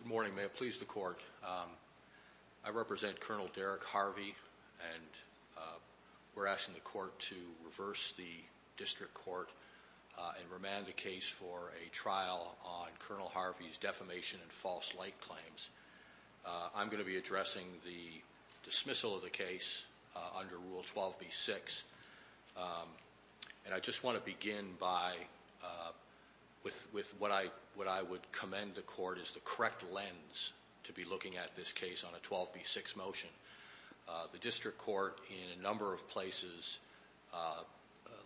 Good morning, may it please the court. I represent Col. Derek Harvey and we're asking the court to reverse the district court and remand the case for a trial on Col. Harvey's defamation and false light claims. I'm going to be addressing the dismissal of the case under Rule 12b-6 and I just want to begin by with what I would commend the court is the correct lens to be looking at this case on a 12b-6 motion. The district court in a number of places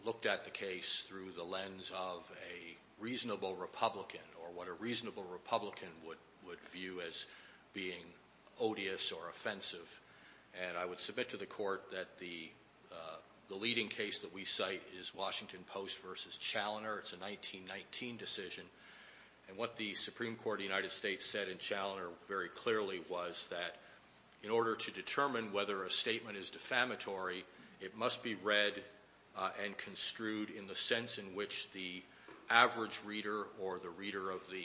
looked at the case through the lens of a reasonable Republican or what a reasonable Republican would would view as being odious or offensive and I would submit to the court that the the leading case that we cite is Washington Post versus Chaloner. It's a 1919 decision and what the Supreme Court of the United States said in Chaloner very clearly was that in order to determine whether a statement is average reader or the reader of the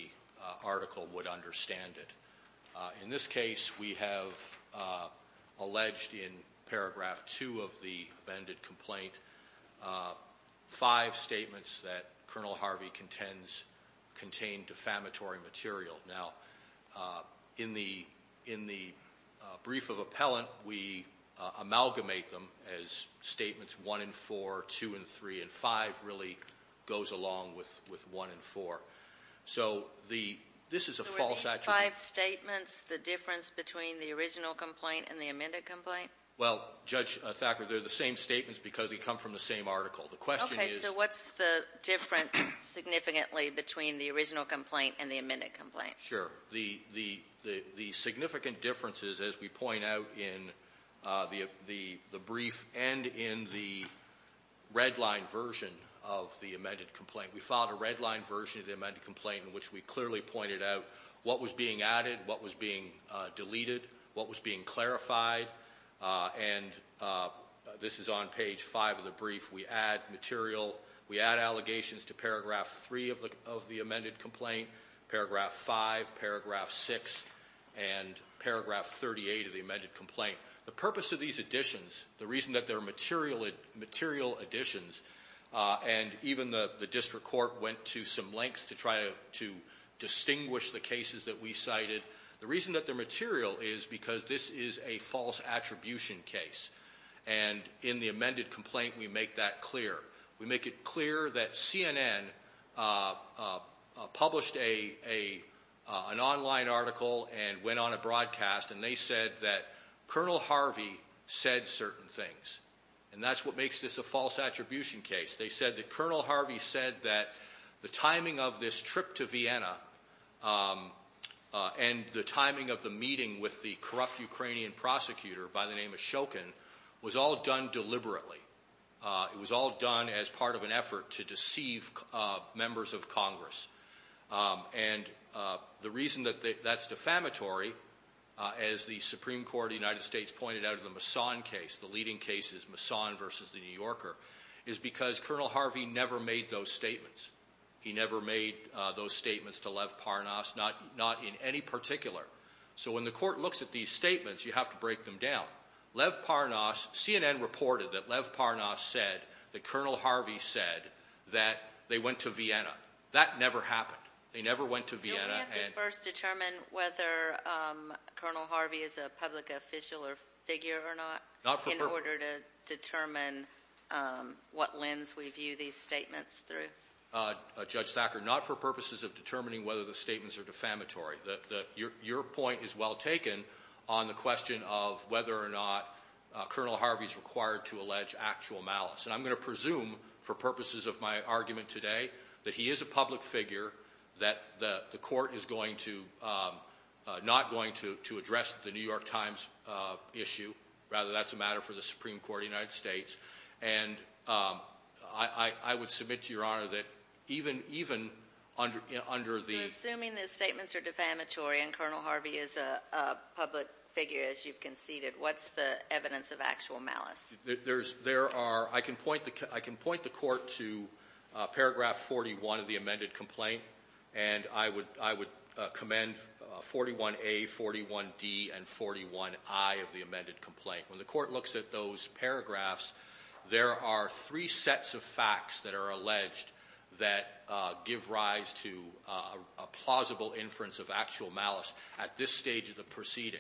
article would understand it. In this case we have alleged in paragraph 2 of the amended complaint five statements that Col. Harvey contends contain defamatory material. Now in the in the brief of appellant we amalgamate them as statements 1 and 4, 2 and 3, and 5 really goes along with with 1 and 4. So the this is a false attribute. So are these five statements the difference between the original complaint and the amended complaint? Well Judge Thacker they're the same statements because they come from the same article. The question is... Okay so what's the difference significantly between the original complaint and the amended complaint? Sure the the the significant differences as we point out in the the the brief and in the redline version of the amended complaint. We filed a redline version of the amended complaint in which we clearly pointed out what was being added, what was being deleted, what was being clarified and this is on page five of the brief. We add material we add allegations to paragraph 3 of the of the amended complaint, paragraph 5, paragraph 6, and paragraph 38 of the amended complaint. The purpose of these additions the reason that they're material material additions and even the the district court went to some lengths to try to distinguish the cases that we cited the reason that they're material is because this is a false attribution case and in the amended complaint we make that clear. We make it clear that CNN published a a an online article and went on a broadcast and they said that Colonel Harvey said certain things and that's what makes this a false attribution case. They said that Colonel Harvey said that the timing of this trip to Vienna and the timing of the meeting with the corrupt Ukrainian prosecutor by the name of Shokin was all done deliberately. It was all done as part of an effort to deceive members of Congress and the reason that that's defamatory as the Supreme Court of the United States pointed out of the Mason case the leading cases Mason versus the New Yorker is because Colonel Harvey never made those statements. He never made those statements to have to break them down. Lev Parnas CNN reported that Lev Parnas said that Colonel Harvey said that they went to Vienna. That never happened. They never went to Vienna. We have to first determine whether Colonel Harvey is a public official or figure or not in order to determine what lens we view these statements through. Judge Thacker not for purposes of determining whether the statements are defamatory. Your point is well taken on the question of whether or not Colonel Harvey is required to allege actual malice and I'm going to presume for purposes of my argument today that he is a public figure that the court is going to not going to to address the New York Times issue rather that's a matter for the Supreme Court of the United States and I would submit to your honor that even under the assuming the statements are defamatory and Colonel Harvey is a public figure as you've conceded what's the evidence of actual malice. There are I can point the court to paragraph 41 of the amended complaint and I would commend 41A, 41D and 41I of the amended complaint. When the court looks at those paragraphs there are three sets of facts that are alleged that give rise to a plausible inference of actual malice at this stage of the proceeding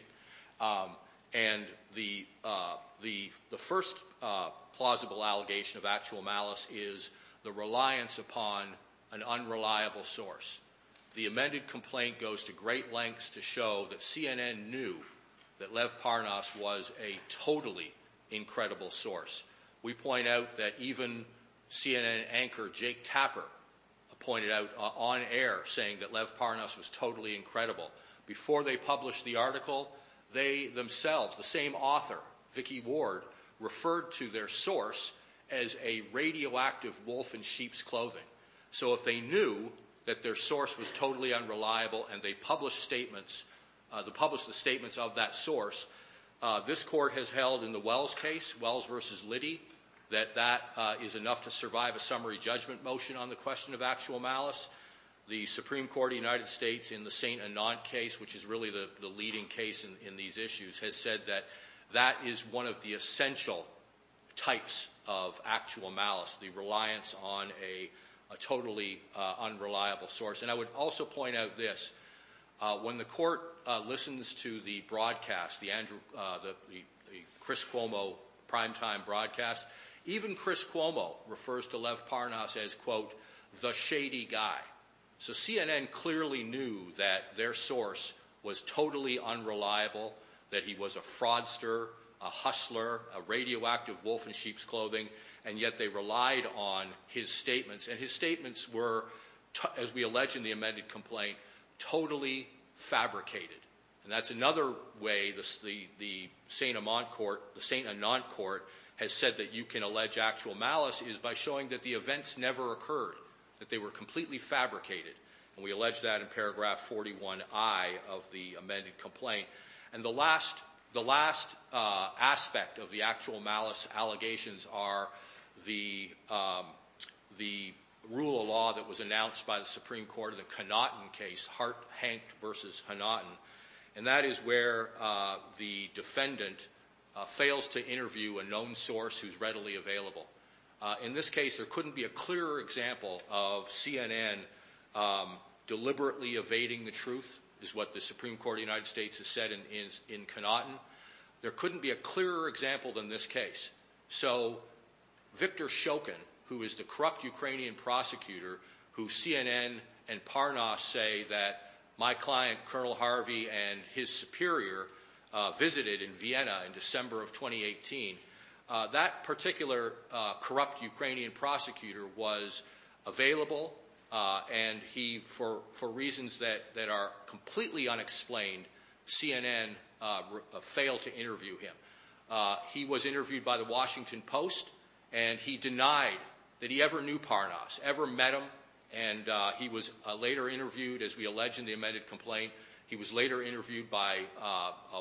and the first plausible allegation of actual malice is the reliance upon an unreliable source. The amended complaint goes to great lengths to show that CNN knew that Lev Parnas was a totally incredible source. We point out that even CNN anchor Jake Tapper pointed out on air saying that Lev Parnas was totally incredible. Before they published the article they themselves the same author Vicki Ward referred to their source as a radioactive wolf in sheep's clothing. So if they knew that their source was totally unreliable and they published statements the published the statements of that source this court has held in the Wells case, Wells versus Liddy, that that is enough to survive a summary judgment motion on the question of actual malice. The Supreme Court of the United States in the St. Anant case which is really the the leading case in these issues has said that that is one of the essential types of actual malice the reliance on a totally unreliable source and I would also point out this when the court listens to the broadcast the Andrew the Chris Cuomo primetime broadcast even Chris Cuomo refers to Lev Parnas as quote the shady guy. So CNN clearly knew that their source was totally unreliable that he was a fraudster a hustler a radioactive wolf in sheep's clothing and yet they relied on his statements and his statements were as we allege in the amended complaint totally fabricated and that's another way the the St. Amant court the St. Anant court has said that you can allege actual malice is by showing that the events never occurred that they were completely fabricated and we allege that in paragraph 41 I of the amended complaint and the last the last aspect of the actual malice allegations are the the rule of law that was announced by the Supreme Court of the Connaughton case Hart Hank versus Connaughton and that is where the defendant fails to interview a known source who's readily available. In this case there couldn't be a clearer example of CNN deliberately evading the truth is what the Supreme Court of the United States has said in Connaughton there couldn't be a clearer example than this case. So Victor Shoken who is the corrupt Ukrainian prosecutor who CNN and Parnas say that my client Colonel Harvey and his superior visited in Vienna in December of 2018 that particular corrupt Ukrainian prosecutor was available and he for for reasons that that are completely unexplained CNN failed to interview him. He was interviewed by the Washington Post and he denied that he ever knew Parnas ever met him and he was later interviewed as we allege in the amended complaint he was later interviewed by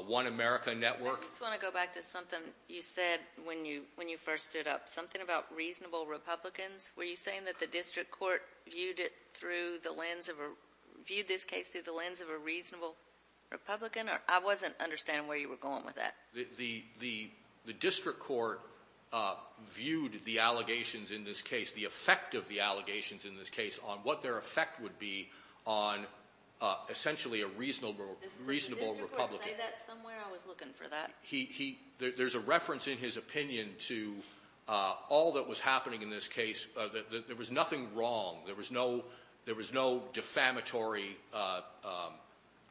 One America Network. I just want to go back to something you said when you when you first stood up something about reasonable Republicans were you saying that the district court viewed it through the lens of a viewed this case through the lens of a reasonable Republican or I wasn't understanding where you were going with that. The the the district court uh viewed the allegations in this case the effect of the allegations in this case on what their effect would be on uh essentially a reasonable reasonable Republican. He he there's a reference in his opinion to uh all that was happening in this case that there was nothing wrong there was no there was no defamatory uh um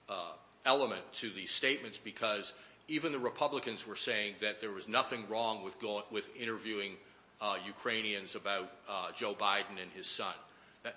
uh element to these statements because even the Republicans were saying that there was nothing wrong with going with interviewing uh Ukrainians about uh Joe Biden and his son.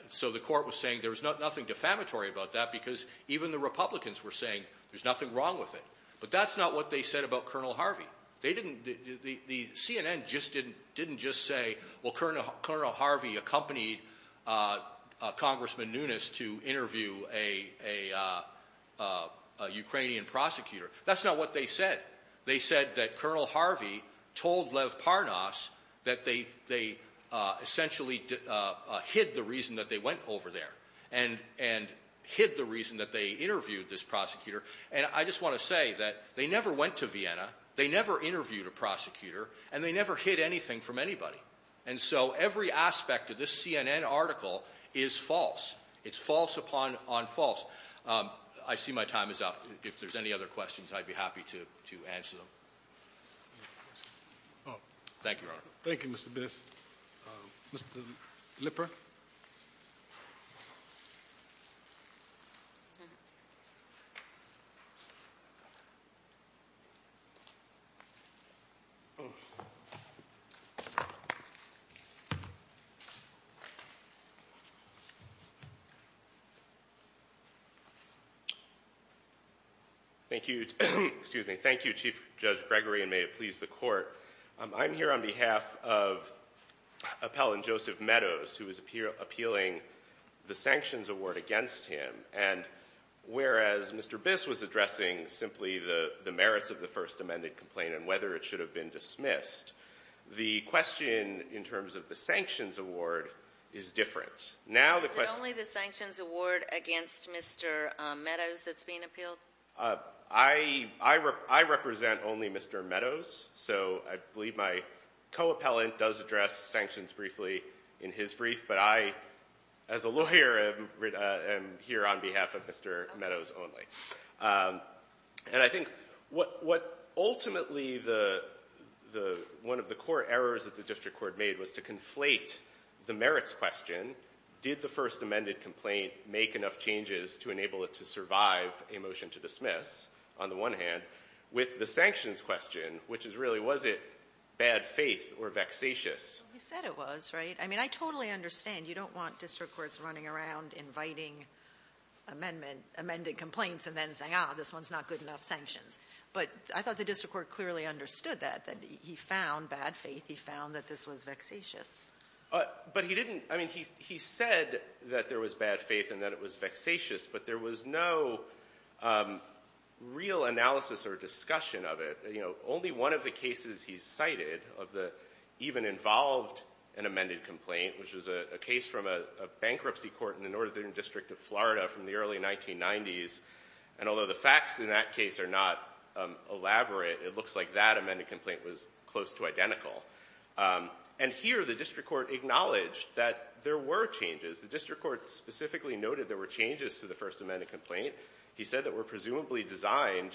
So the court was saying there's nothing defamatory about that because even the Republicans were saying there's nothing wrong with it but that's not what they said about Colonel Harvey. They didn't the the CNN just didn't didn't just say well Colonel Harvey accompanied uh uh Congressman Nunes to interview a a uh Ukrainian prosecutor. That's not what they said. They said that Colonel Harvey told Lev Parnas that they they uh essentially uh hid the reason that they went over there and and hid the reason that they interviewed this prosecutor. And I just want to say that they never went to Vienna, they never interviewed a prosecutor, and they never hid anything from anybody. And so every aspect of this CNN article is false. It's false upon on false. Um I see my time is up. If there's any other questions I'd be happy to to answer them. Thank you, Your Honor. Thank you, Mr. Biss. Mr. Lipper. Thank you. Excuse me. Thank you, Chief Judge Gregory, and may it please the Court. I'm here on behalf of Appellant Joseph Meadows who is appealing the sanctions award against him and whereas Mr. Biss was addressing simply the the merits of the first amended complaint and whether it should have been dismissed, the question in terms of the sanctions award is different. Now the question... Is it only the sanctions award against Mr. Meadows that's being I represent only Mr. Meadows, so I believe my co-appellant does address sanctions briefly in his brief, but I as a lawyer am here on behalf of Mr. Meadows only. And I think what what ultimately the the one of the core errors that the district court made was to conflate the merits question, did the first amended complaint make enough changes to enable it to survive a motion to dismiss, on the one hand, with the sanctions question, which is really was it bad faith or vexatious? You said it was, right? I mean I totally understand you don't want district courts running around inviting amendment amended complaints and then saying, ah, this one's not good enough sanctions. But I thought the district court clearly understood that, that he found bad faith, he found that this was vexatious. But he didn't, I mean he he said that there was bad faith and that it was vexatious, but there was no real analysis or discussion of it. You know, only one of the cases he cited of the even involved an amended complaint, which was a case from a bankruptcy court in the northern district of Florida from the early 1990s, and although the facts in that case are not elaborate, it looks like that amended complaint was close to identical. And here the were changes to the first amended complaint. He said that were presumably designed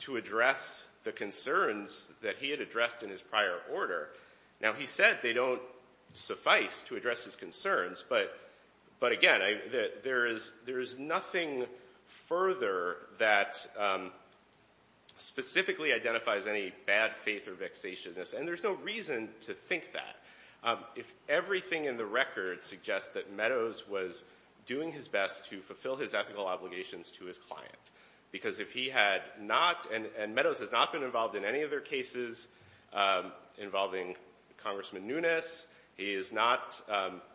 to address the concerns that he had addressed in his prior order. Now, he said they don't suffice to address his concerns, but again, there is nothing further that specifically identifies any bad faith or vexatiousness, and there's no reason to think that. If everything in the record suggests that Meadows was doing his best to fulfill his ethical obligations to his client, because if he had not, and Meadows has not been involved in any of their cases involving Congressman Nunes, he has not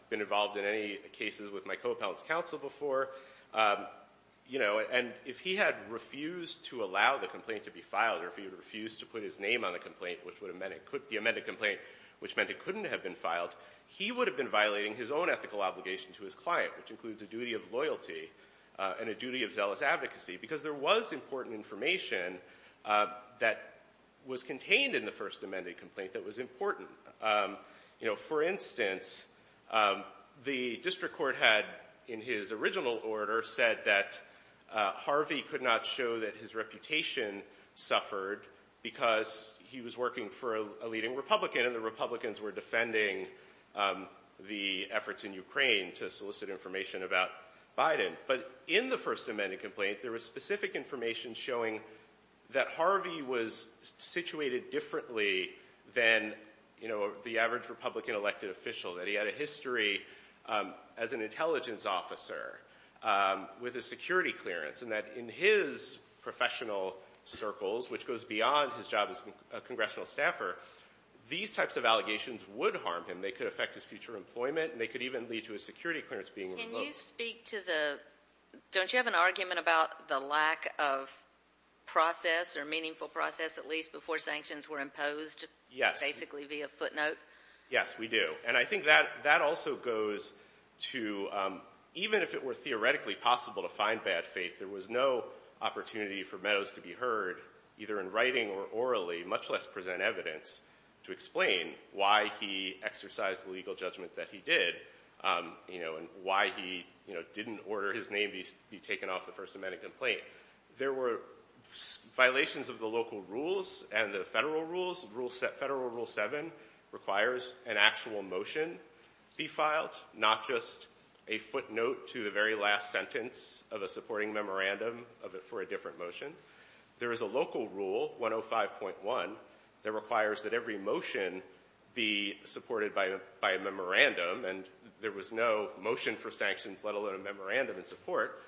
been involved in any cases with my co-appellant's counsel before, you know, and if he had refused to allow the complaint to be filed, or if he refused to put his name on the complaint, which would have meant it could be amended complaint, which meant it couldn't have been filed, he would have been violating his own ethical obligation to his client, which includes a duty of loyalty and a duty of zealous advocacy, because there was important information that was contained in the first amended complaint that was important. You know, for instance, the district court had, in his original order, said that Harvey could not show that his reputation suffered because he was working for a leading Republican, and the Republicans were defending the efforts in Ukraine to solicit information about Biden, but in the first amended complaint, there was specific information showing that Harvey was situated differently than, you know, the average Republican elected official, that he had a history as an intelligence officer with a security clearance, and that in his professional circles, which goes beyond his job as a congressional staffer, these types of allegations would harm him. They could affect his future employment, and they could even lead to his security clearance being revoked. Can you speak to the — don't you have an argument about the lack of process, or meaningful process, at least, before sanctions were imposed? Yes. Basically via footnote? Yes, we do. And I think that also goes to — even if it were theoretically possible to find bad faith, there was no opportunity for Meadows to be heard, either in writing or orally, much less present evidence, to explain why he exercised the legal judgment that he did, you know, and why he, you know, didn't order his name be taken off the first amended complaint. There were violations of the local rules and the federal rules. Federal Rule 7 requires an actual motion be filed, not just a footnote to the very last sentence of a supporting memorandum for a different motion. There is a local rule, 105.1, that requires that every motion be supported by a memorandum, and there was no motion for sanctions, let alone a memorandum in support.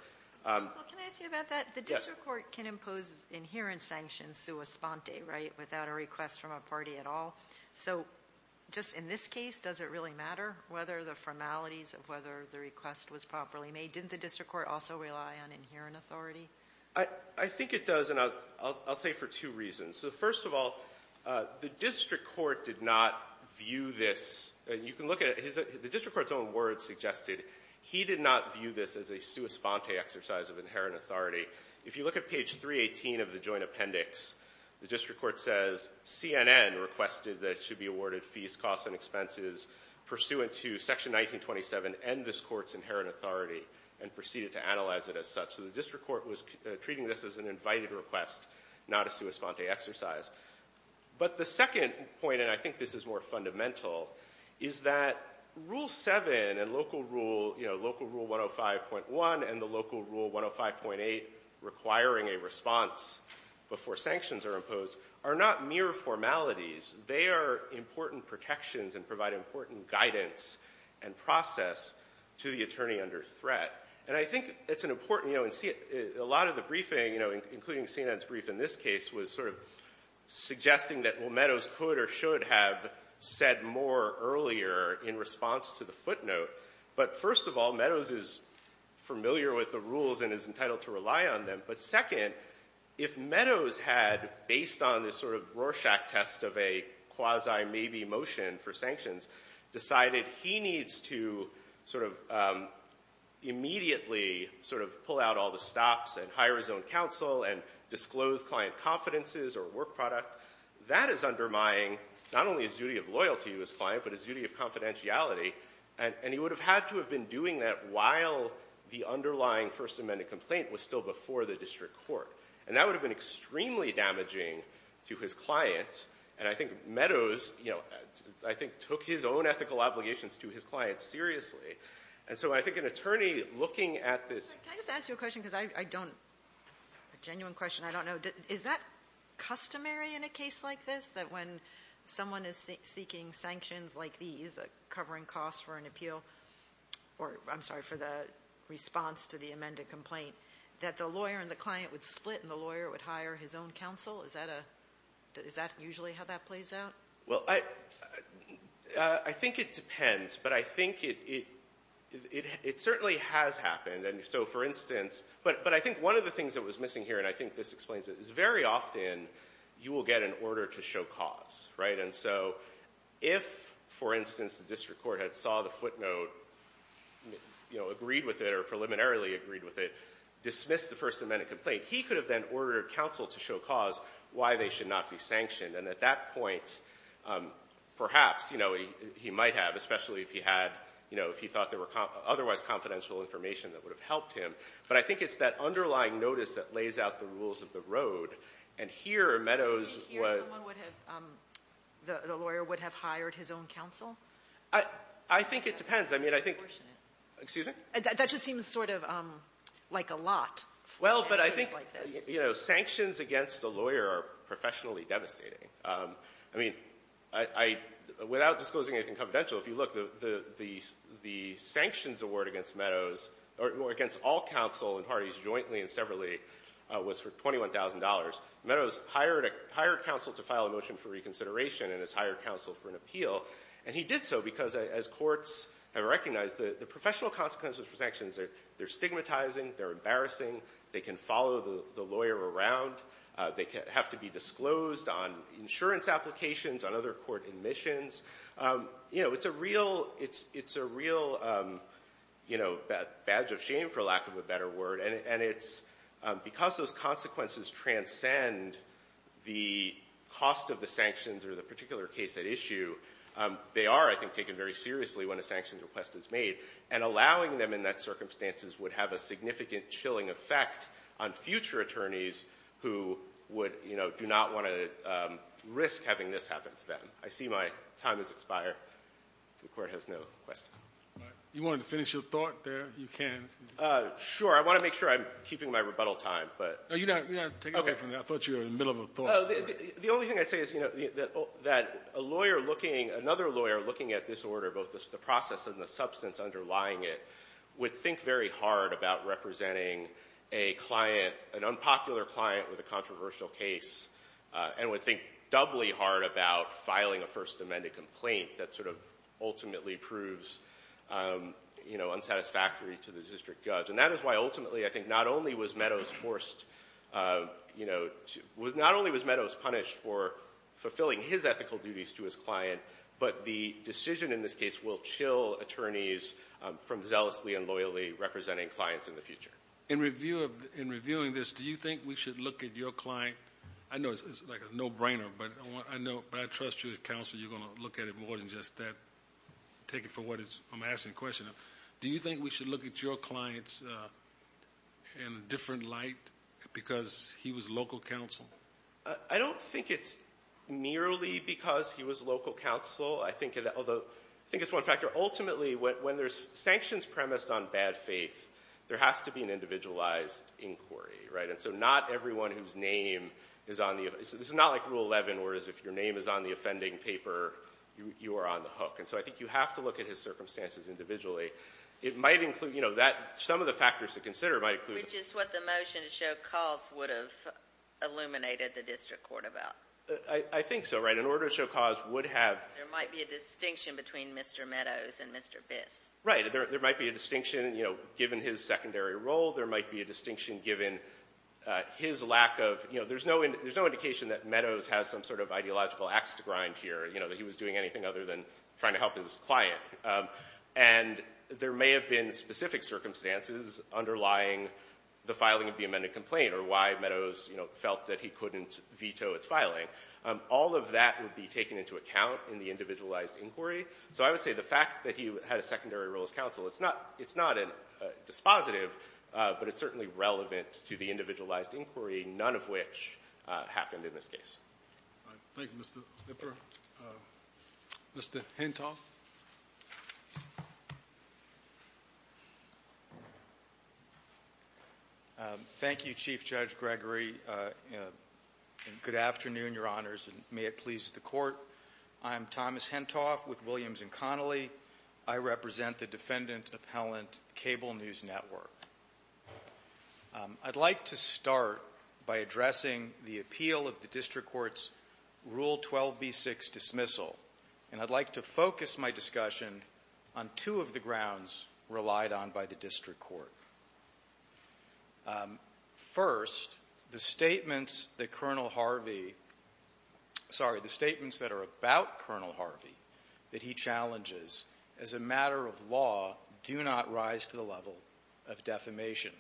Counsel, can I ask you about that? Yes. The district court can impose inherent sanctions sua sponte, right, without a request from a party at all. So just in this case, does it really matter whether the formalities of whether the request was properly made? Didn't the district court also rely on inherent authority? I think it does, and I'll say for two reasons. So first of all, the district court did not view this. You can look at it. The district court's own words suggested he did not view this as a sua sponte exercise of inherent authority. If you look at page 318 of the Joint Appendix, the district court says CNN requested that it should be awarded fees, costs, and expenses pursuant to Section 1927 and this and proceeded to analyze it as such. So the district court was treating this as an invited request, not a sua sponte exercise. But the second point, and I think this is more fundamental, is that Rule 7 and local rule, you know, local rule 105.1 and the local rule 105.8 requiring a response before sanctions are imposed are not mere formalities. They are important protections and provide important guidance and process to the And I think it's an important, you know, and a lot of the briefing, you know, including CNN's brief in this case, was sort of suggesting that, well, Meadows could or should have said more earlier in response to the footnote. But first of all, Meadows is familiar with the rules and is entitled to rely on them. But second, if Meadows had, based on this sort of Rorschach test of a quasi-maybe motion for sanctions, decided he needs to sort of immediately sort of pull out all the stops and hire his own counsel and disclose client confidences or work product, that is undermining not only his duty of loyalty to his client, but his duty of confidentiality. And he would have had to have been doing that while the underlying First Amendment complaint was still before the district court. And that would have been extremely damaging to his client. And I think Meadows, you know, I think, took his own ethical obligations to his client seriously. And so I think an attorney looking at this... Can I just ask you a question? Because I don't, a genuine question, I don't know. Is that customary in a case like this, that when someone is seeking sanctions like these, covering costs for an appeal, or I'm sorry, for the response to the amended complaint, that the lawyer and the client would split and the lawyer would hire his own counsel? Is that a – is that usually how that plays out? Well, I think it depends. But I think it certainly has happened. And so, for instance, but I think one of the things that was missing here, and I think this explains it, is very often you will get an order to show cause, right? And so if, for instance, the district court had saw the footnote, you know, agreed with it or preliminarily agreed with it, dismissed the First Amendment complaint, he could have then ordered counsel to show cause why they should not be sanctioned. And at that point, perhaps, you know, he might have, especially if he had, you know, if he thought there were otherwise confidential information that would have helped him. But I think it's that underlying notice that lays out the rules of the road. And here Meadows was... Do you think here someone would have, the lawyer would have hired his own counsel? I think it depends. I mean, I think... It's proportionate. Excuse me? That just seems sort of like a lot. Well, but I think, you know, sanctions against a lawyer are professionally devastating. I mean, I, without disclosing anything confidential, if you look, the sanctions award against Meadows, or against all counsel and parties jointly and severally, was for $21,000. Meadows hired counsel to file a motion for reconsideration and has hired counsel for an appeal. And he did so because, as courts have recognized, the professional consequences for sanctions, they're stigmatizing, they're embarrassing, they can follow the lawyer around, they have to be disclosed on insurance applications, on other court admissions. You know, it's a real, it's a real, you know, badge of shame, for lack of a better word. And it's because those consequences transcend the cost of the sanctions or the particular case at issue, they are, I think, taken very seriously when a sanctions request is made. And allowing them in that circumstances would have a significant chilling effect on future attorneys who would, you know, do not want to risk having this happen to them. I see my time has expired. The Court has no questions. You wanted to finish your thought there? You can. Sure. I want to make sure I'm keeping my rebuttal time, but — No, you don't have to take it away from me. I thought you were in the middle of a thought. The only thing I'd say is, you know, that a lawyer looking, another lawyer looking at this order, both the process and the substance underlying it, would think very hard about representing a client, an unpopular client with a controversial case, and would think doubly hard about filing a First Amendment complaint that sort of ultimately proves, you know, unsatisfactory to the district judge. And that is why, ultimately, I think not only was Meadows forced, you know, not only was Meadows punished for fulfilling his ethical duties to his client, but the decision in this case will chill attorneys from zealously and loyally representing clients in the future. In review of — in reviewing this, do you think we should look at your client — I know it's like a no-brainer, but I know — but I trust you as counsel, you're going to look at it more than just that. Take it for what it's — I'm asking the question of, do you think we should look at your clients in a different light because he was local counsel? I don't think it's merely because he was local counsel. I think — although, I think it's one factor. Ultimately, when there's sanctions premised on bad faith, there has to be an individualized inquiry, right? And so not everyone whose name is on the — this is not like Rule 11, where it's if your name is on the offending paper, you are on the hook. And so I think you have to look at his circumstances individually. It might include — you know, that — some of the factors to consider might include — Which is what the motion to show cause would have illuminated the district court about. I think so, right? In order to show cause would have — There might be a distinction between Mr. Meadows and Mr. Biss. Right. There might be a distinction, you know, given his secondary role. There might be a distinction given his lack of — you know, there's no indication that Meadows has some sort of ideological axe to grind here, you know, that he was doing anything other than trying to help his client. And there may have been specific circumstances underlying the filing of the amended complaint or why Meadows, you know, felt that he couldn't veto its filing. All of that would be taken into account in the individualized inquiry. So I would say the fact that he had a secondary role as counsel, it's not — it's not a dispositive, but it's certainly relevant to the individualized inquiry, none of which happened in this case. Thank you, Mr. Lipper. Mr. Henton. Thank you, Chief Judge Gregory. And good afternoon, Your Honors, and may it please the Court. I am Thomas Hentoff with Williams & Connolly. I represent the Defendant Appellant Cable News Network. I'd like to start by addressing the appeal of the district court's Rule 12b6 dismissal, and I'd like to focus my discussion on two of the grounds relied on by the district court. First, the statements that Colonel Harvey — sorry, the statements that are about Colonel Harvey that he challenges as a matter of law do not rise to the level of defamation.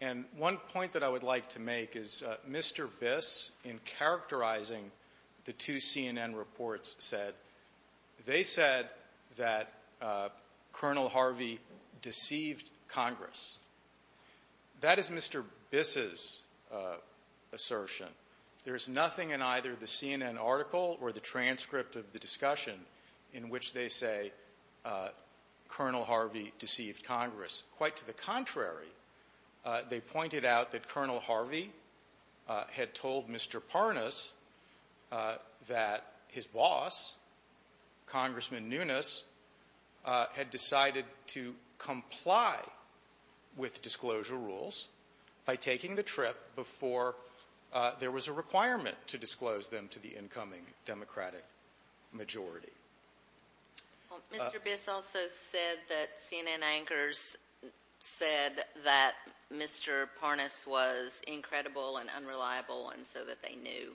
And one point that I would like to make is Mr. Biss, in characterizing the two CNN reports, said — they said that Colonel Harvey deceived Congress. That is Mr. Biss's assertion. There is nothing in either the CNN article or the transcript of the discussion in which they say Colonel Harvey deceived Congress. Quite to the contrary, they pointed out that Colonel Harvey had told Mr. Parnas that his boss, Congressman Nunes, had decided to comply with disclosure rules by taking the trip before there was a requirement to disclose them to the incoming Democratic majority. Mr. Biss also said that CNN anchors said that Mr. Parnas was incredible and unreliable, and so that they knew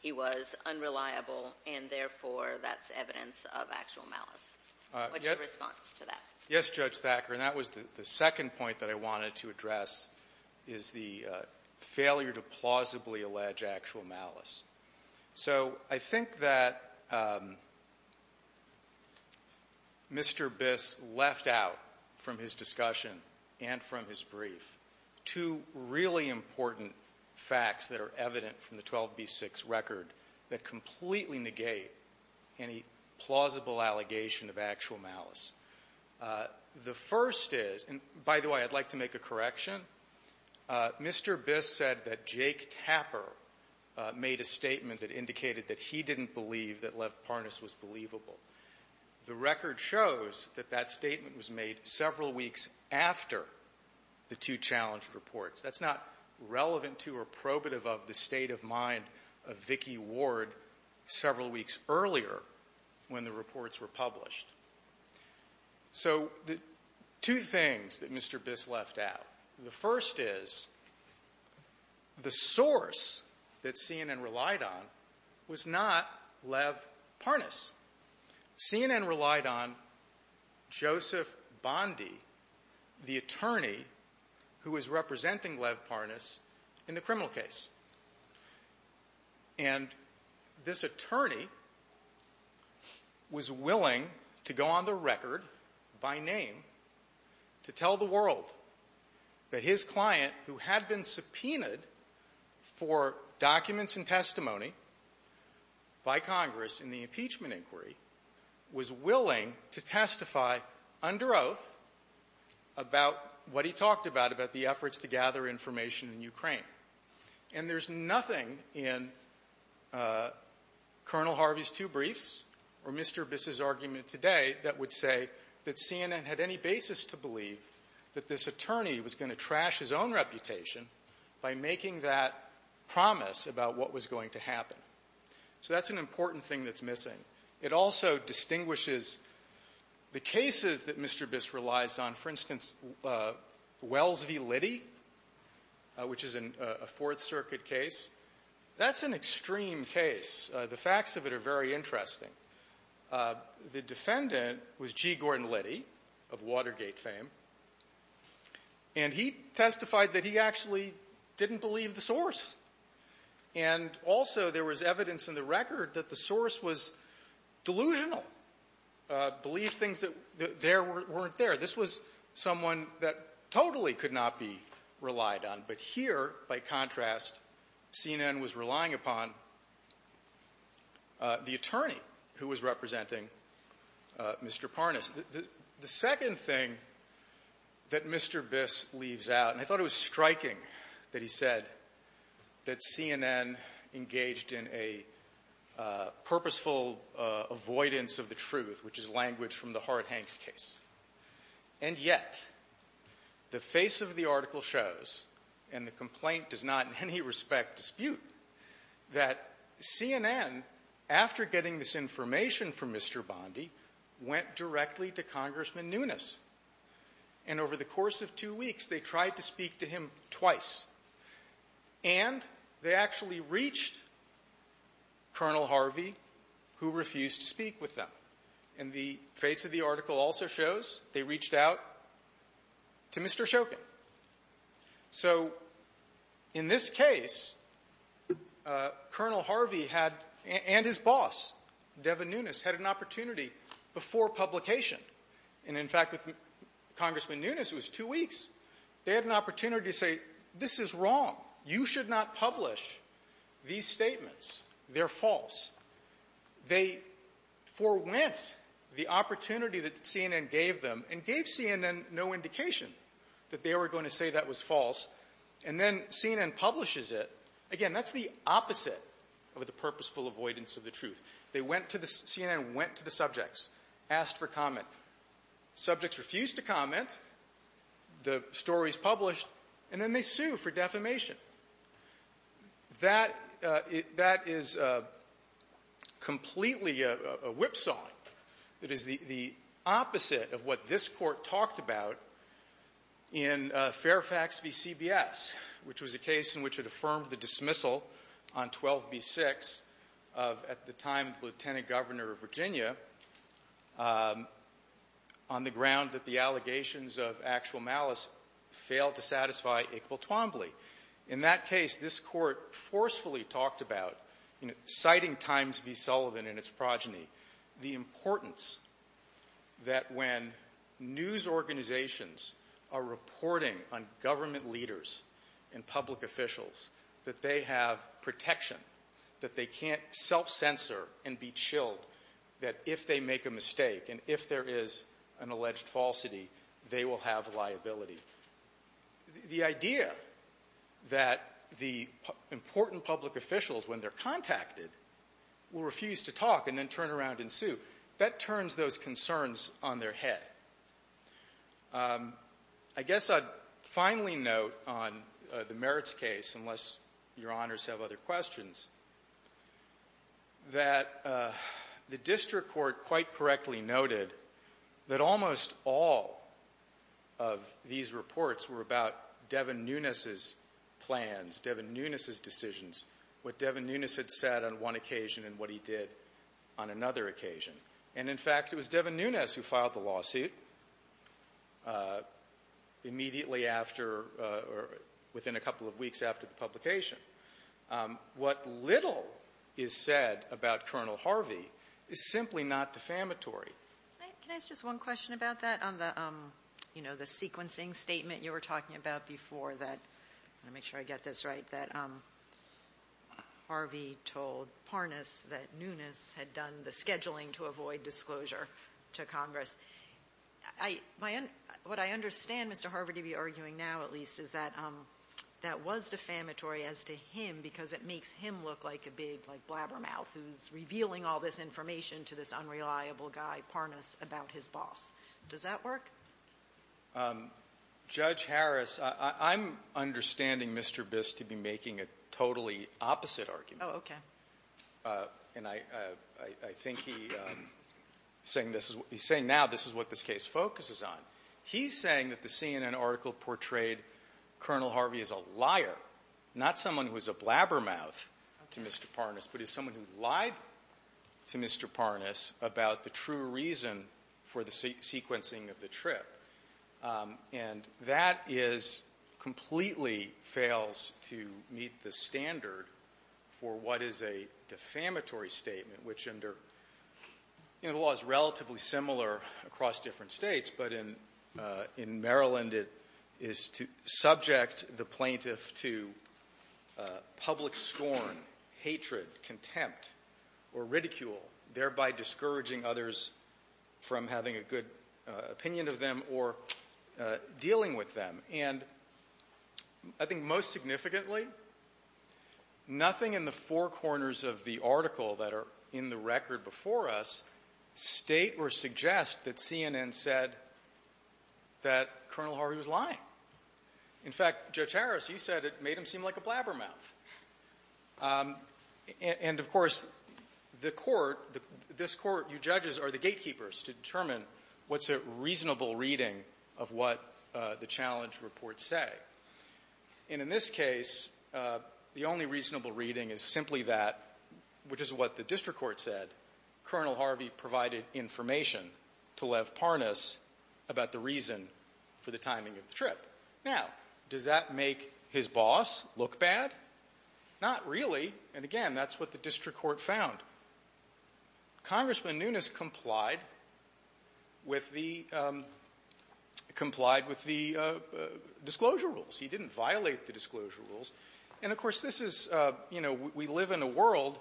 he was unreliable, and therefore, that's evidence of actual malice. What's your response to that? Yes, Judge Thacker, and that was the second point that I wanted to address, is the failure to plausibly allege actual malice. So I think that Mr. Biss left out from his discussion and from his brief two really important facts that are evident from the 12b6 record that completely negate any plausible allegation of actual malice. The first is — and by the way, I'd like to make a correction. Mr. Biss said that Jake Tapper made a statement that indicated that he didn't believe that Lev Parnas was believable. The record shows that that statement was made several weeks after the two challenged reports. That's not relevant to or probative of the state of mind of Vicki Ward several weeks earlier when the reports were published. So the two things that Mr. Biss left out, the first is that the source that CNN relied on was not Lev Parnas. CNN relied on Joseph Bondi, the attorney who was representing Lev Parnas in the criminal case. And this attorney was willing to go on the record by name to tell the world that his client, who had been subpoenaed for documents and testimony by Congress in the impeachment inquiry, was willing to testify under oath about what he talked about, about the efforts to gather information in Ukraine. And there's nothing in Colonel Harvey's two briefs or Mr. Biss's argument today that would say that CNN had any basis to believe that this attorney was going to trash his own reputation by making that promise about what was going to happen. So that's an important thing that's missing. It also distinguishes the cases that Mr. Biss relies on. For instance, Wells v. Liddy, which is a Fourth Circuit case, that's an extreme case. The facts of it are very interesting. The defendant was G. Gordon Liddy of Watergate fame, and he testified that he actually didn't believe the source. And also there was evidence in the record that the source was that totally could not be relied on. But here, by contrast, CNN was relying upon the attorney who was representing Mr. Parnas. The second thing that Mr. Biss leaves out, and I thought it was striking that he said that CNN engaged in a purposeful avoidance of the truth, which is language from the Hart-Hanks case. And yet, the face of the article shows, and the complaint does not in any respect dispute, that CNN, after getting this information from Mr. Bondi, went directly to Congressman Nunes. And over the course of two weeks, they tried to speak to him twice. And they actually reached Col. Harvey, who refused to speak with them. And the face of the article also shows they reached out to Mr. Shokin. So in this case, Col. Harvey had, and his boss, Devin Nunes, had an opportunity before publication. And in fact, with Congressman Nunes, it was two weeks, they had an opportunity to say, this is wrong. You should not publish these statements. They're false. They forwent the opportunity that CNN gave them and gave CNN no indication that they were going to say that was false. And then CNN publishes it. Again, that's the opposite of the purposeful avoidance of the truth. They went to the CNN, went to the subjects, asked for comment. Subjects refused to comment. The story is published. And then they sue for defamation. That is completely a whipsaw. It is the opposite of what this Court talked about in Fairfax v. CBS, which was a case in which it affirmed the dismissal on 12b-6 of, at the time, Lieutenant Governor of Virginia, on the ground that the allegations of actual malice failed to satisfy Iqbal Twombly. In that case, this Court forcefully talked about, citing Times v. Sullivan and its progeny, the importance that when news organizations are reporting on government leaders and public officials, that they have protection, that they can't self-censor and be chilled, that if they make a mistake and if there is an alleged falsity, they will have liability. The idea that the important public officials, when they're contacted, will refuse to talk and then turn around and sue, that turns those concerns on their head. I guess I'd finally note on the Your Honors have other questions, that the District Court quite correctly noted that almost all of these reports were about Devin Nunes' plans, Devin Nunes' decisions, what Devin Nunes had said on one occasion and what he did on another occasion. And, in fact, it was Devin Nunes' publication. What little is said about Colonel Harvey is simply not defamatory. Can I ask just one question about that on the sequencing statement you were talking about before that? I want to make sure I get this right, that Harvey told Parnas that Nunes had done the scheduling to avoid disclosure to Congress. What I understand, Mr. Harvey, to be arguing now at least, is that that was defamatory as to him because it makes him look like a big, like, blabbermouth who's revealing all this information to this unreliable guy, Parnas, about his boss. Does that work? Judge Harris, I'm understanding Mr. Biss to be making a totally opposite argument. Oh, okay. And I think he's saying this is what he's saying now, this is what this case focuses on. He's saying that the CNN article portrayed Colonel Harvey as a liar, not someone who's a blabbermouth to Mr. Parnas, but as someone who lied to Mr. Parnas about the true reason for the sequencing of the trip. And that is, completely fails to meet the standard for what is a defamatory statement, which under, you know, the law is relatively similar across different states, but in Maryland it is subject the plaintiff to public scorn, hatred, contempt, or ridicule, thereby discouraging others from having a good opinion of them or dealing with them. And I think most significantly, nothing in the four corners of the article that are in the report said that Colonel Harvey was lying. In fact, Judge Harris, you said it made him seem like a blabbermouth. And of course, the Court, this Court, you judges, are the gatekeepers to determine what's a reasonable reading of what the challenge reports say. And in this case, the only reasonable reading is simply that, which is what the district court said. Colonel Harvey provided information to Lev Parnas about the reason for the timing of the trip. Now, does that make his boss look bad? Not really. And again, that's what the district court found. Congressman Nunes complied with the disclosure rules. He didn't violate the disclosure rules. And of course, this is, you know, we live in a world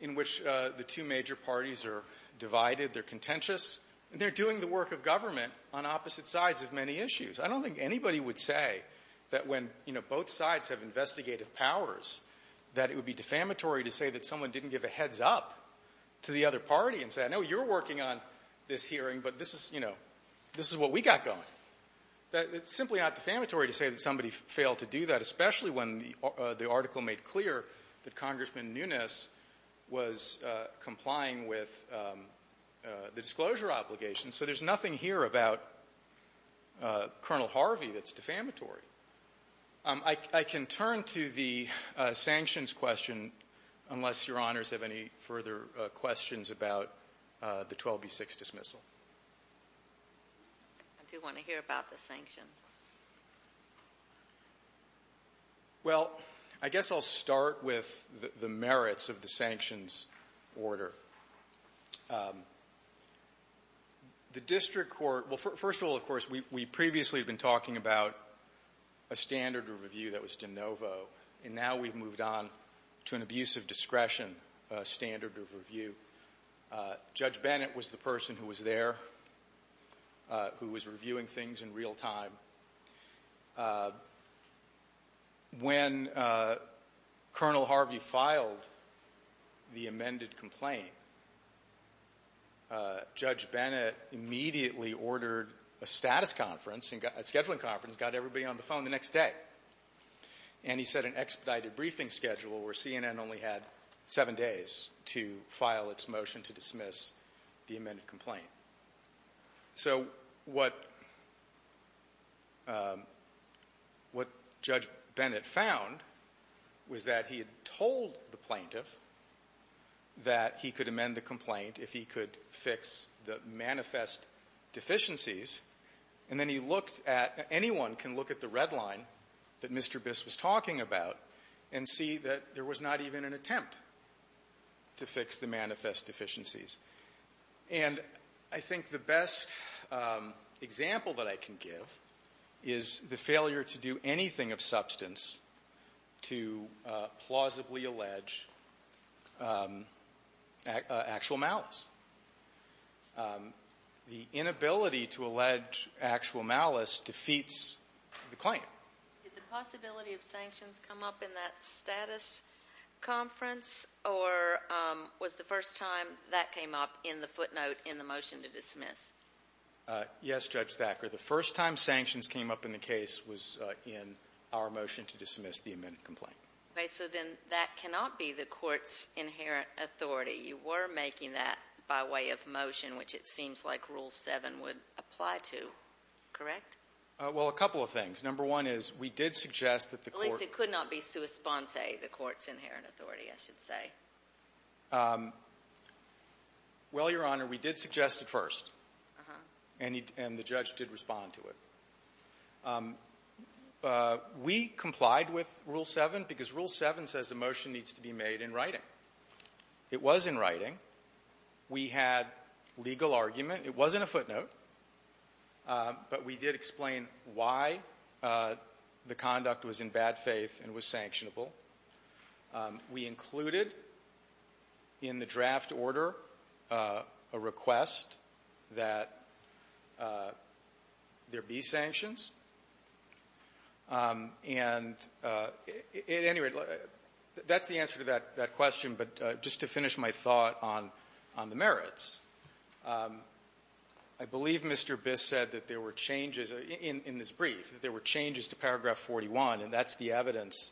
in which the two major parties are divided, they're contentious, and they're doing the work of government on opposite sides of many issues. I don't think anybody would say that when, you know, both sides have investigative powers, that it would be defamatory to say that someone didn't give a heads-up to the other party and say, I know you're working on this hearing, but this is, you know, this is what we got going. It's simply not defamatory to say that somebody failed to do that, especially when the article made clear that Congressman Nunes was complying with the disclosure obligations. So there's nothing here about Colonel Harvey that's defamatory. I can turn to the sanctions question unless Your Honors have any further questions about the 12B6 dismissal. I do want to hear about the sanctions. Well, I guess I'll start with the merits of the sanctions order. The district court – well, first of all, of course, we previously had been talking about a standard of review that was de novo, and now we've moved on to an abuse of discretion standard of review. Judge Bennett was the person who was there, who was reviewing things in real time. When Colonel Harvey filed the amended complaint, Judge Bennett immediately ordered a status conference, a scheduling conference, got everybody on the phone the next day, and he set an expedited briefing schedule where CNN only had seven days to file its motion to dismiss the amended complaint. So what Judge Bennett found was that he had told the plaintiff that he could amend the complaint if he could fix the manifest deficiencies, and then he looked at – anyone can look at the red line that Mr. Biss was talking about and see that there was not even an attempt to fix the manifest deficiencies. And I think the best example that I can give is the failure to do anything of substance to plausibly allege actual malice. The inability to allege actual malice defeats the claim. Did the possibility of sanctions come up in that status conference, or was the first time that came up in the footnote in the motion to dismiss? Yes, Judge Thacker. The first time sanctions came up in the case was in our motion to dismiss the amended complaint. Okay. So then that cannot be the court's inherent authority. You were making that by way of motion, which it seems like Rule 7 would apply to, correct? Well, a couple of things. Number one is, we did suggest that the court – At least it could not be sua sponte, the court's inherent authority, I should say. Well, Your Honor, we did suggest it first, and the judge did respond to it. We complied with Rule 7 because Rule 7 says a motion needs to be made in writing. It was in writing. We had legal argument. It wasn't a footnote, but we did explain why the conduct was in bad faith and was sanctionable. We included in the draft order a request that there be sanctions. And at any rate, that's the answer to that question. But just to finish my thought on the merits, I believe Mr. Biss said that there were changes in this brief, that there were changes to Paragraph 41, and that's the evidence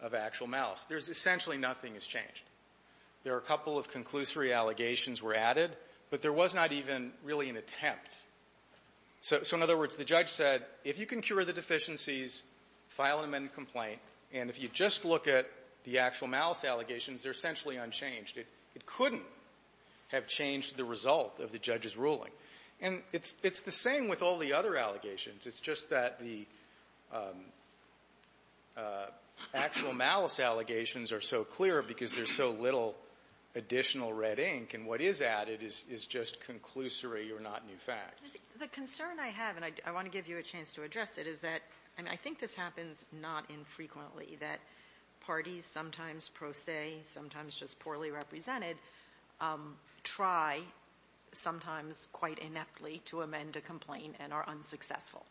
of actual malice. There's essentially nothing has changed. There are a couple of conclusory allegations were added, but there was not even really an attempt. So, in other words, the judge said, if you can cure the deficiencies, file an amended complaint, and if you just look at the actual malice allegations, they're essentially unchanged. It couldn't have changed the result of the judge's ruling. And it's the same with all the other allegations. It's just that the actual malice allegations are so clear because there's so little additional red ink, and what is added is just conclusory, you're not new facts. The concern I have, and I want to give you a chance to address it, is that, I mean, I think this happens not infrequently, that parties, sometimes pro se, sometimes just poorly represented, try, sometimes quite ineptly, to amend a complaint and are unsuccessful.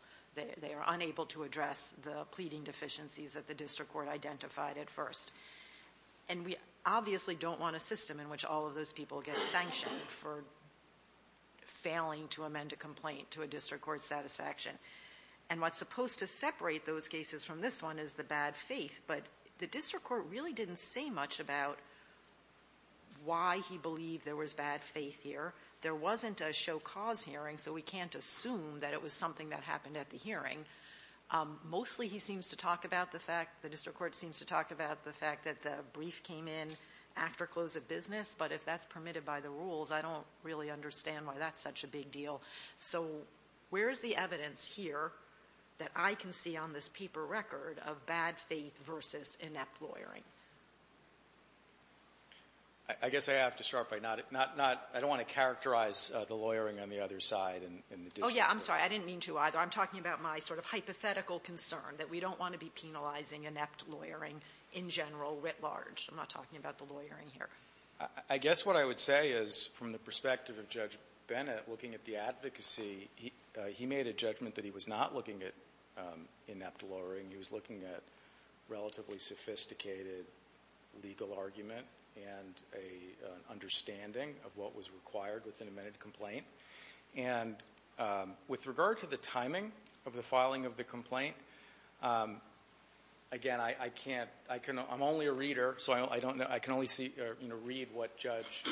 They are unable to address the pleading deficiencies that the district court identified at first. And we obviously don't want a system in which all of those people get sanctioned for failing to amend a complaint to a district court's satisfaction. And what's supposed to separate those cases from this one is the bad faith, but the district court really didn't say much about why he believed there was bad faith here. There wasn't a show-cause hearing, so we can't assume that it was something that happened at the hearing. Mostly he seems to talk about the fact, the district court seems to talk about the fact that the brief came in after close of the hearing, and it was permitted by the rules. I don't really understand why that's such a big deal. So where's the evidence here that I can see on this paper record of bad faith versus inept lawyering? I guess I have to start by not, not, not, I don't want to characterize the lawyering on the other side in the district court. Oh, yeah. I'm sorry. I didn't mean to either. I'm talking about my sort of hypothetical concern that we don't want to be penalizing inept lawyering in general, writ large. I'm not talking about the lawyering here. I guess what I would say is, from the perspective of Judge Bennett, looking at the advocacy, he, he made a judgment that he was not looking at inept lawyering. He was looking at relatively sophisticated legal argument, and a, an understanding of what was required with an amended complaint. And with regard to the timing of the filing of the complaint, again, I, I can't, I can, I'm only a reader, so I, I don't know, I can only see, or, you know, read what Judge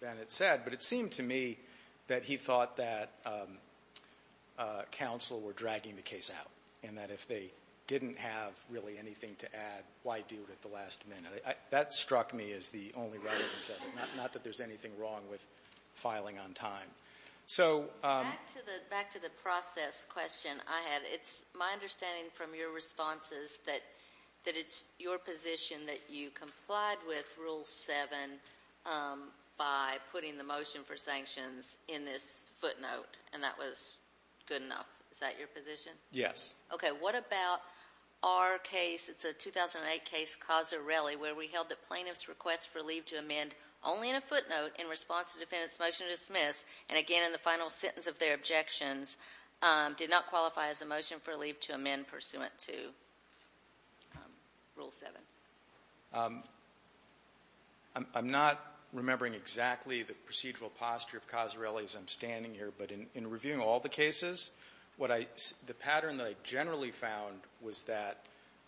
Bennett said. But it seemed to me that he thought that counsel were dragging the case out, and that if they didn't have really anything to add, why do it at the last minute? I, I, that struck me as the only right answer, not, not that there's anything wrong with filing on time. So, back to the, back to the process question I had. It's my understanding from your responses that, that it's your position that you complied with Rule 7 by putting the motion for sanctions in this footnote, and that was good enough. Is that your position? Yes. Okay, what about our case, it's a 2008 case, Cozzarelli, where we held the plaintiff's request for leave to amend only in a footnote in response to the defendant's motion to dismiss, and again, in the final sentence of their objections, did not qualify as a motion for leave to amend pursuant to Rule 7? I'm, I'm not remembering exactly the procedural posture of Cozzarelli as I'm standing here, but in, in reviewing all the cases, what I, the pattern that I generally found was that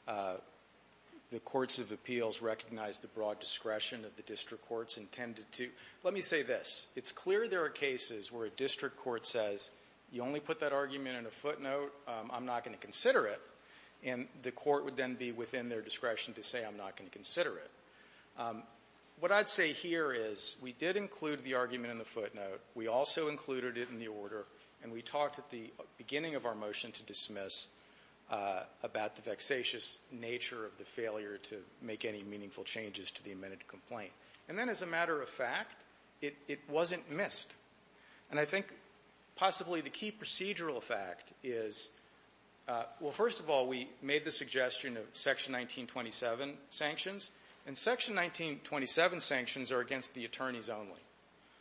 the courts of appeals recognized the broad discretion of the district courts intended to. Let me say this. It's clear there are cases where a district court says, you only put that argument in a footnote, I'm not going to consider it, and the court would then be within their discretion to say, I'm not going to consider it. What I'd say here is, we did include the argument in the footnote, we also included it in the order, and we talked at the beginning of our motion to dismiss about the vexatious nature of the failure to make any meaningful changes to the amended complaint. And then as a matter of fact, it, it wasn't missed. And I think possibly the key procedural fact is, well, first of all, we made the suggestion of Section 1927 sanctions. And Section 1927 sanctions are against the attorneys only.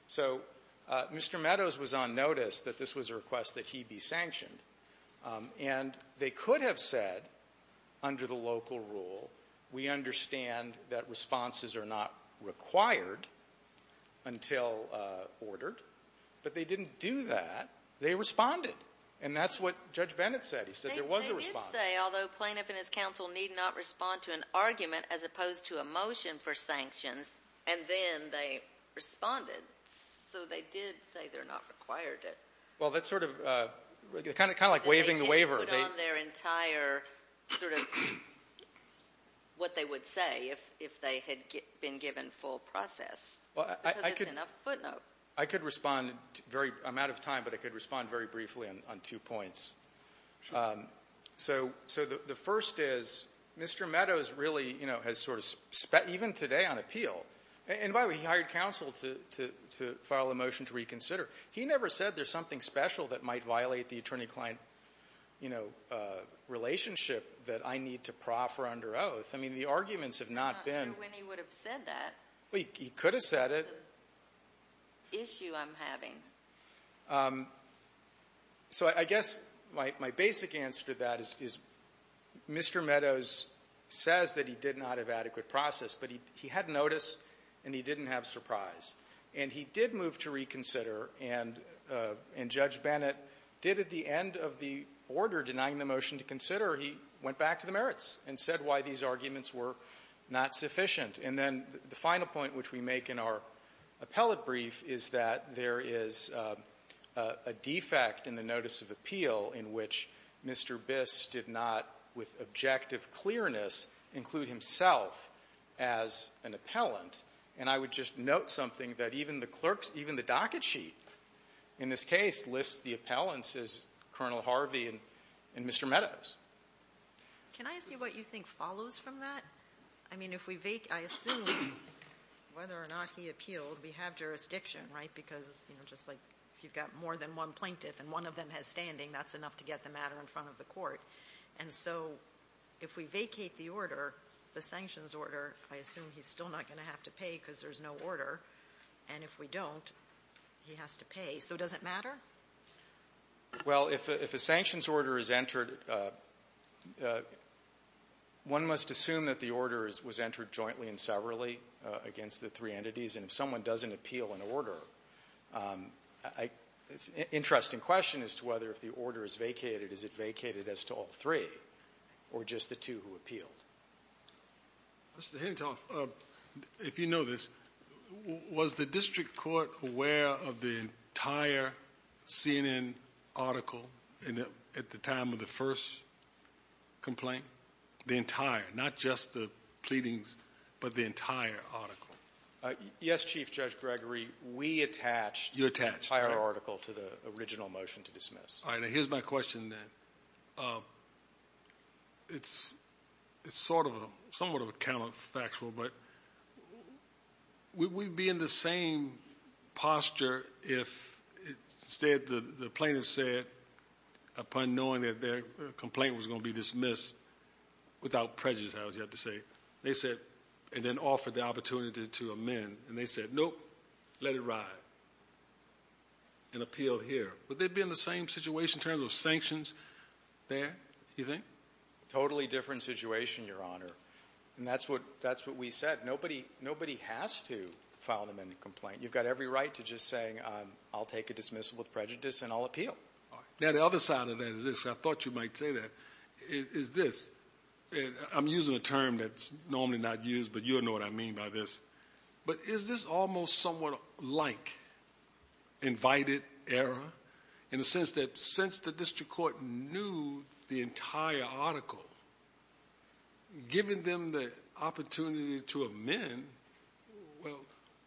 So Mr. Meadows was on notice that this was a request that he be sanctioned. And they could have said, under the local rule, we understand that responses are not required until ordered, but they didn't do that. They responded. And that's what Judge Bennett said. He said there was a response. They did say, although plaintiff and his counsel need not respond to an argument as opposed to a motion for sanctions, and then they responded. So they did say they're not required it. Well, that's sort of, kind of, kind of like waiving the waiver. They didn't put on their entire, sort of, what they would say if, if they had been given full process. Well, I, I could. Because it's in a footnote. I could respond very, I'm out of time, but I could respond very briefly on, on two points. Sure. So, so the, the first is, Mr. Meadows really, you know, has sort of spent, even today, on appeal. And by the way, he hired counsel to, to, to file a motion to reconsider. He never said there's something special that might violate the attorney-client, you know, relationship that I need to proffer under oath. I mean, the arguments have not been. I'm not sure when he would have said that. Well, he, he could have said it. That's the issue I'm having. And so I guess my, my basic answer to that is, is Mr. Meadows says that he did not have adequate process, but he, he had notice, and he didn't have surprise. And he did move to reconsider, and, and Judge Bennett did at the end of the order denying the motion to consider. He went back to the merits and said why these arguments were not sufficient. And then the final point which we make in our appellate brief is that there is a, a defect in the notice of appeal in which Mr. Biss did not, with objective clearness, include himself as an appellant. And I would just note something that even the clerks, even the docket sheet in this case lists the appellants as Colonel Harvey and, and Mr. Meadows. Can I ask you what you think follows from that? I mean, if we vacate, I assume, whether or not he appealed, we have jurisdiction, right? Because, you know, just like, if you've got more than one plaintiff and one of them has standing, that's enough to get the matter in front of the court. And so, if we vacate the order, the sanctions order, I assume he's still not going to have to pay because there's no order. And if we don't, he has to pay. So does it matter? Well, if a, if a sanctions order is entered, one must assume that the order is, was entered jointly and severally against the three entities. And if someone doesn't appeal an order, I, it's an interesting question as to whether if the order is vacated, is it vacated as to all three or just the two who appealed? Mr. Hentoff, if you know this, was the district court aware of the entire CNN article at the time of the first complaint? The entire, not just the pleadings, but the entire article? Yes, Chief Judge Gregory. We attached the entire article to the original motion to dismiss. All right. Now, here's my question then. It's, it's sort of a, somewhat of a counterfactual, but would we be in the same posture if instead the plaintiff said upon knowing that their complaint was going to be dismissed without prejudice, I would have to say. They said, and then offered the opportunity to amend and they said, nope, let it ride and appeal here. Would they be in the same situation in terms of sanctions there, you think? Totally different situation, Your Honor. And that's what, that's what we said. Nobody, nobody has to file an amended complaint. You've got every right to just saying, I'll take a dismissal with prejudice and I'll appeal. Now, the other side of that is this. I thought you might say that. Is this, I'm using a term that's normally not used, but you'll know what I mean by this, but is this almost somewhat like invited error in the sense that since the district court knew the entire article, giving them the opportunity to amend, well,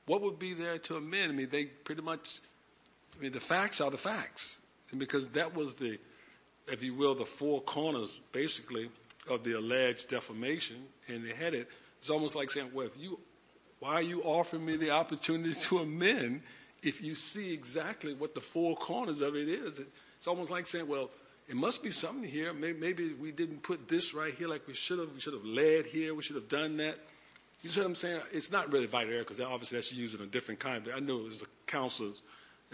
what would be there to amend? I mean, they pretty much, I mean, the facts are the facts. And because that was the, if you will, the four corners basically of the alleged defamation and they had it, it's almost like saying, well, if you, why are you offering me the opportunity to amend if you see exactly what the four corners of it is? It's almost like saying, well, it must be something here. Maybe we didn't put this right here like we should have. We should have led here. We should have done that. You see what I'm saying? It's not really invited error because obviously that's used in a different kind of way. I know as a counselor,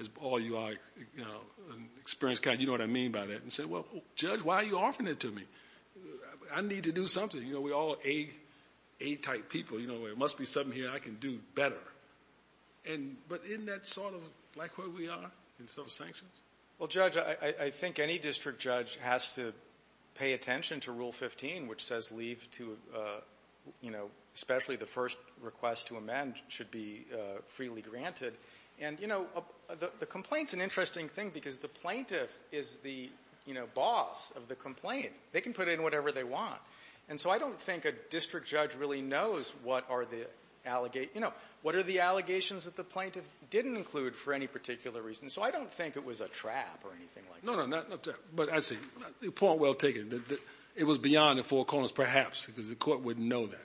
as all you are, you know, an experienced counselor, you know what I mean by that. And say, well, Judge, why are you offering it to me? I need to do something. You know, we're all A type people. You know, it must be something here I can do better. And, but in that sort of like where we are in civil sanctions. Well, Judge, I think any district judge has to pay attention to rule 15, which says leave to, you know, especially the first request to amend should be freely granted. And, you know, the complaint's an interesting thing because the plaintiff is the, you know, boss of the case. And what are the allegations? You know, what are the allegations that the plaintiff didn't include for any particular reason? So I don't think it was a trap or anything like that. No, no, not that. But I see. The point well taken. It was beyond the Four Corners perhaps because the Court wouldn't know that.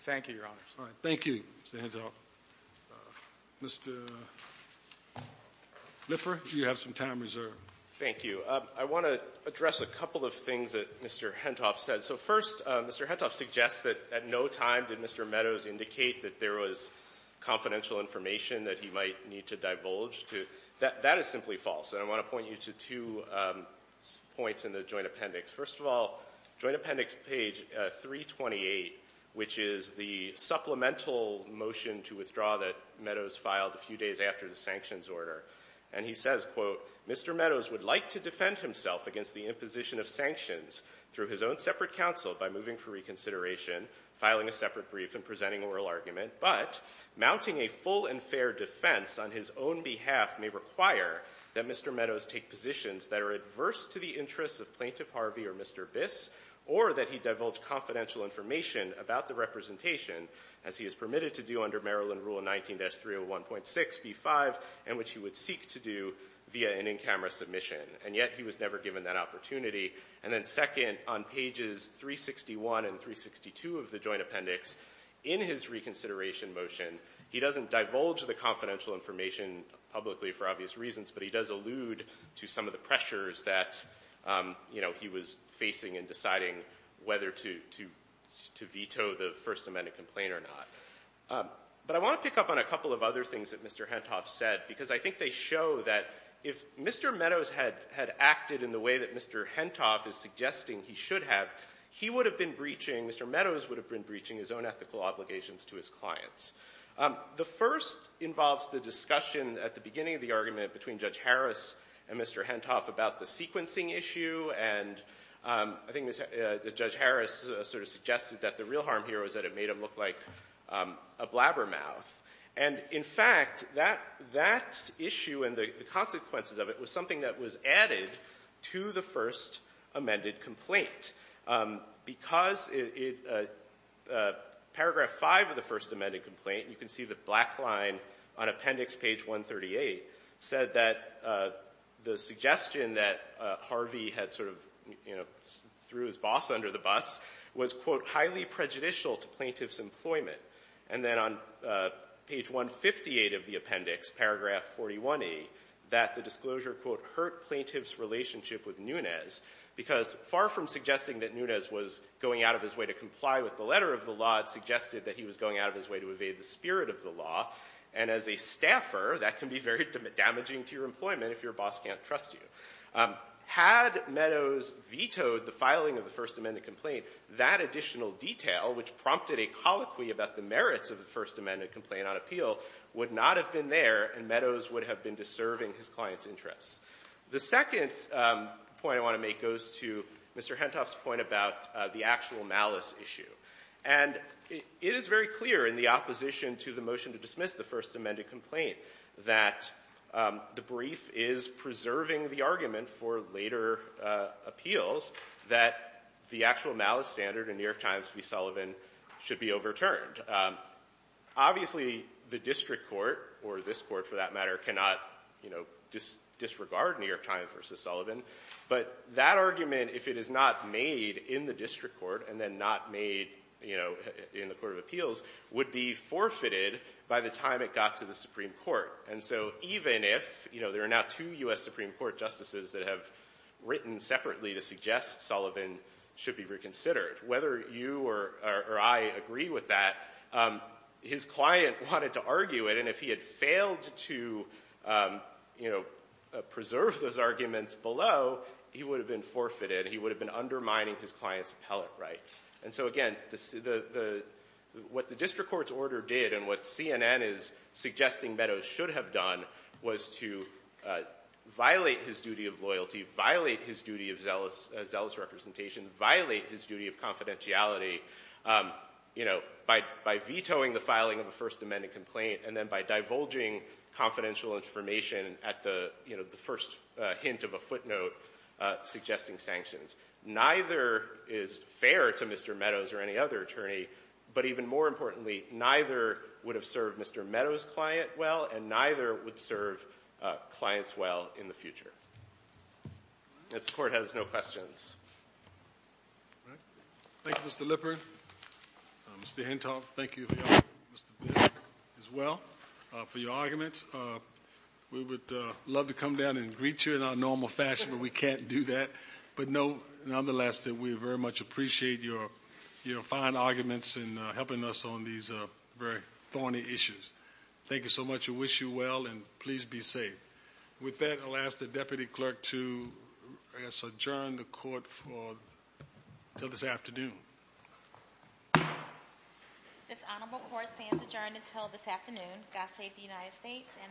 Thank you, Your Honors. All right. Thank you, Mr. Hentoff. Mr. Lipper, you have some time reserved. Thank you. I want to address a couple of things that Mr. Hentoff said. So first, Mr. Hentoff suggests that at no time did Mr. Meadows indicate that there was confidential information that he might need to divulge. That is simply false. And I want to point you to two points in the Joint Appendix. First of all, Joint Appendix page 328, which is the supplemental motion to withdraw that Meadows filed a few days after the sanctions order. And he says, quote, Mr. Meadows would like to defend himself against the imposition of sanctions through his own separate counsel by moving for reconsideration, filing a separate brief, and presenting oral argument. But mounting a full and fair defense on his own behalf may require that Mr. Meadows take positions that are adverse to the interests of Plaintiff Harvey or Mr. Biss or that he divulge confidential information about the representation as he is permitted to do under Maryland Rule 19-301.6b5 and which he would seek to do via an in-camera submission. And yet he was never given that opportunity. And then second, on pages 361 and 362 of the Joint Appendix, in his reconsideration motion, he doesn't divulge the confidential information publicly for obvious reasons, but he does allude to some of the pressures that, you know, he was facing in deciding whether to veto the First Amendment complaint or not. But I want to pick up on a couple of other things that Mr. Hentoff said, because I think they show that if Mr. Meadows had acted in the way that Mr. Hentoff is suggesting he should have, he would have been breaching, Mr. Meadows would have been breaching his own ethical obligations to his clients. The first involves the discussion at the beginning of the argument between Judge Harris and Mr. Hentoff about the sequencing issue. And I think Judge Harris sort of suggested that the real harm here was that it made him look like a blabbermouth. And, in fact, that issue and the consequences of it was something that was added to the First Amended complaint. Because it — paragraph 5 of the First Amended complaint, and you can see the black line on Appendix page 138, said that the suggestion that Harvey had sort of, you know, threw his boss under the bus was, quote, highly prejudicial to plaintiff's employment. And then on page 158 of the appendix, paragraph 41e, that the disclosure, quote, hurt plaintiff's relationship with Nunes. Because far from suggesting that Nunes was going out of his way to comply with the letter of the law, it suggested that he was going out of his way to evade the spirit of the law. And as a staffer, that can be very damaging to your employment if your boss can't trust you. Had Meadows vetoed the filing of the First Amendment complaint, that additional detail, which prompted a colloquy about the merits of the First Amended complaint on appeal, would not have been there, and Meadows would have been deserving his client's interests. The second point I want to make goes to Mr. Hentoff's point about the actual malice issue. And it is very clear in the opposition to the motion to dismiss the First Amended complaint that the brief is preserving the argument for later appeals that the actual malice standard in New York time versus Sullivan. Obviously, the district court, or this court for that matter, cannot, you know, disregard New York time versus Sullivan. But that argument, if it is not made in the district court and then not made, you know, in the court of appeals, would be forfeited by the time it got to the Supreme Court. And so even if, you know, there are now two U.S. Supreme Court justices that have written separately to suggest Sullivan should be reconsidered, whether you or I agree with that, his client wanted to argue it. And if he had failed to, you know, preserve those arguments below, he would have been forfeited. He would have been undermining his client's appellate rights. And so, again, what the district court's order did and what CNN is suggesting Meadows should have done was to violate his duty of loyalty, violate his duty of zealous representation, violate his duty of confidentiality, you know, by vetoing the filing of a First Amended complaint, and then by divulging confidential information at the, you know, the first hint of a footnote suggesting sanctions. Neither is fair to Mr. Meadows or any other attorney. But even more importantly, neither would have served Mr. Meadows' client well, and neither would serve clients well in the future. If the Court has no questions. Thank you, Mr. Lippert. Mr. Hentoff, thank you for your argument, as well, for your arguments. We would love to come down and greet you in our normal fashion, but we very much appreciate your fine arguments and helping us on these very thorny issues. Thank you so much. We wish you well, and please be safe. With that, I'll ask the Deputy Clerk to adjourn the Court until this afternoon. This Honorable Court stands adjourned until this afternoon. God save the United States and this Honorable Court.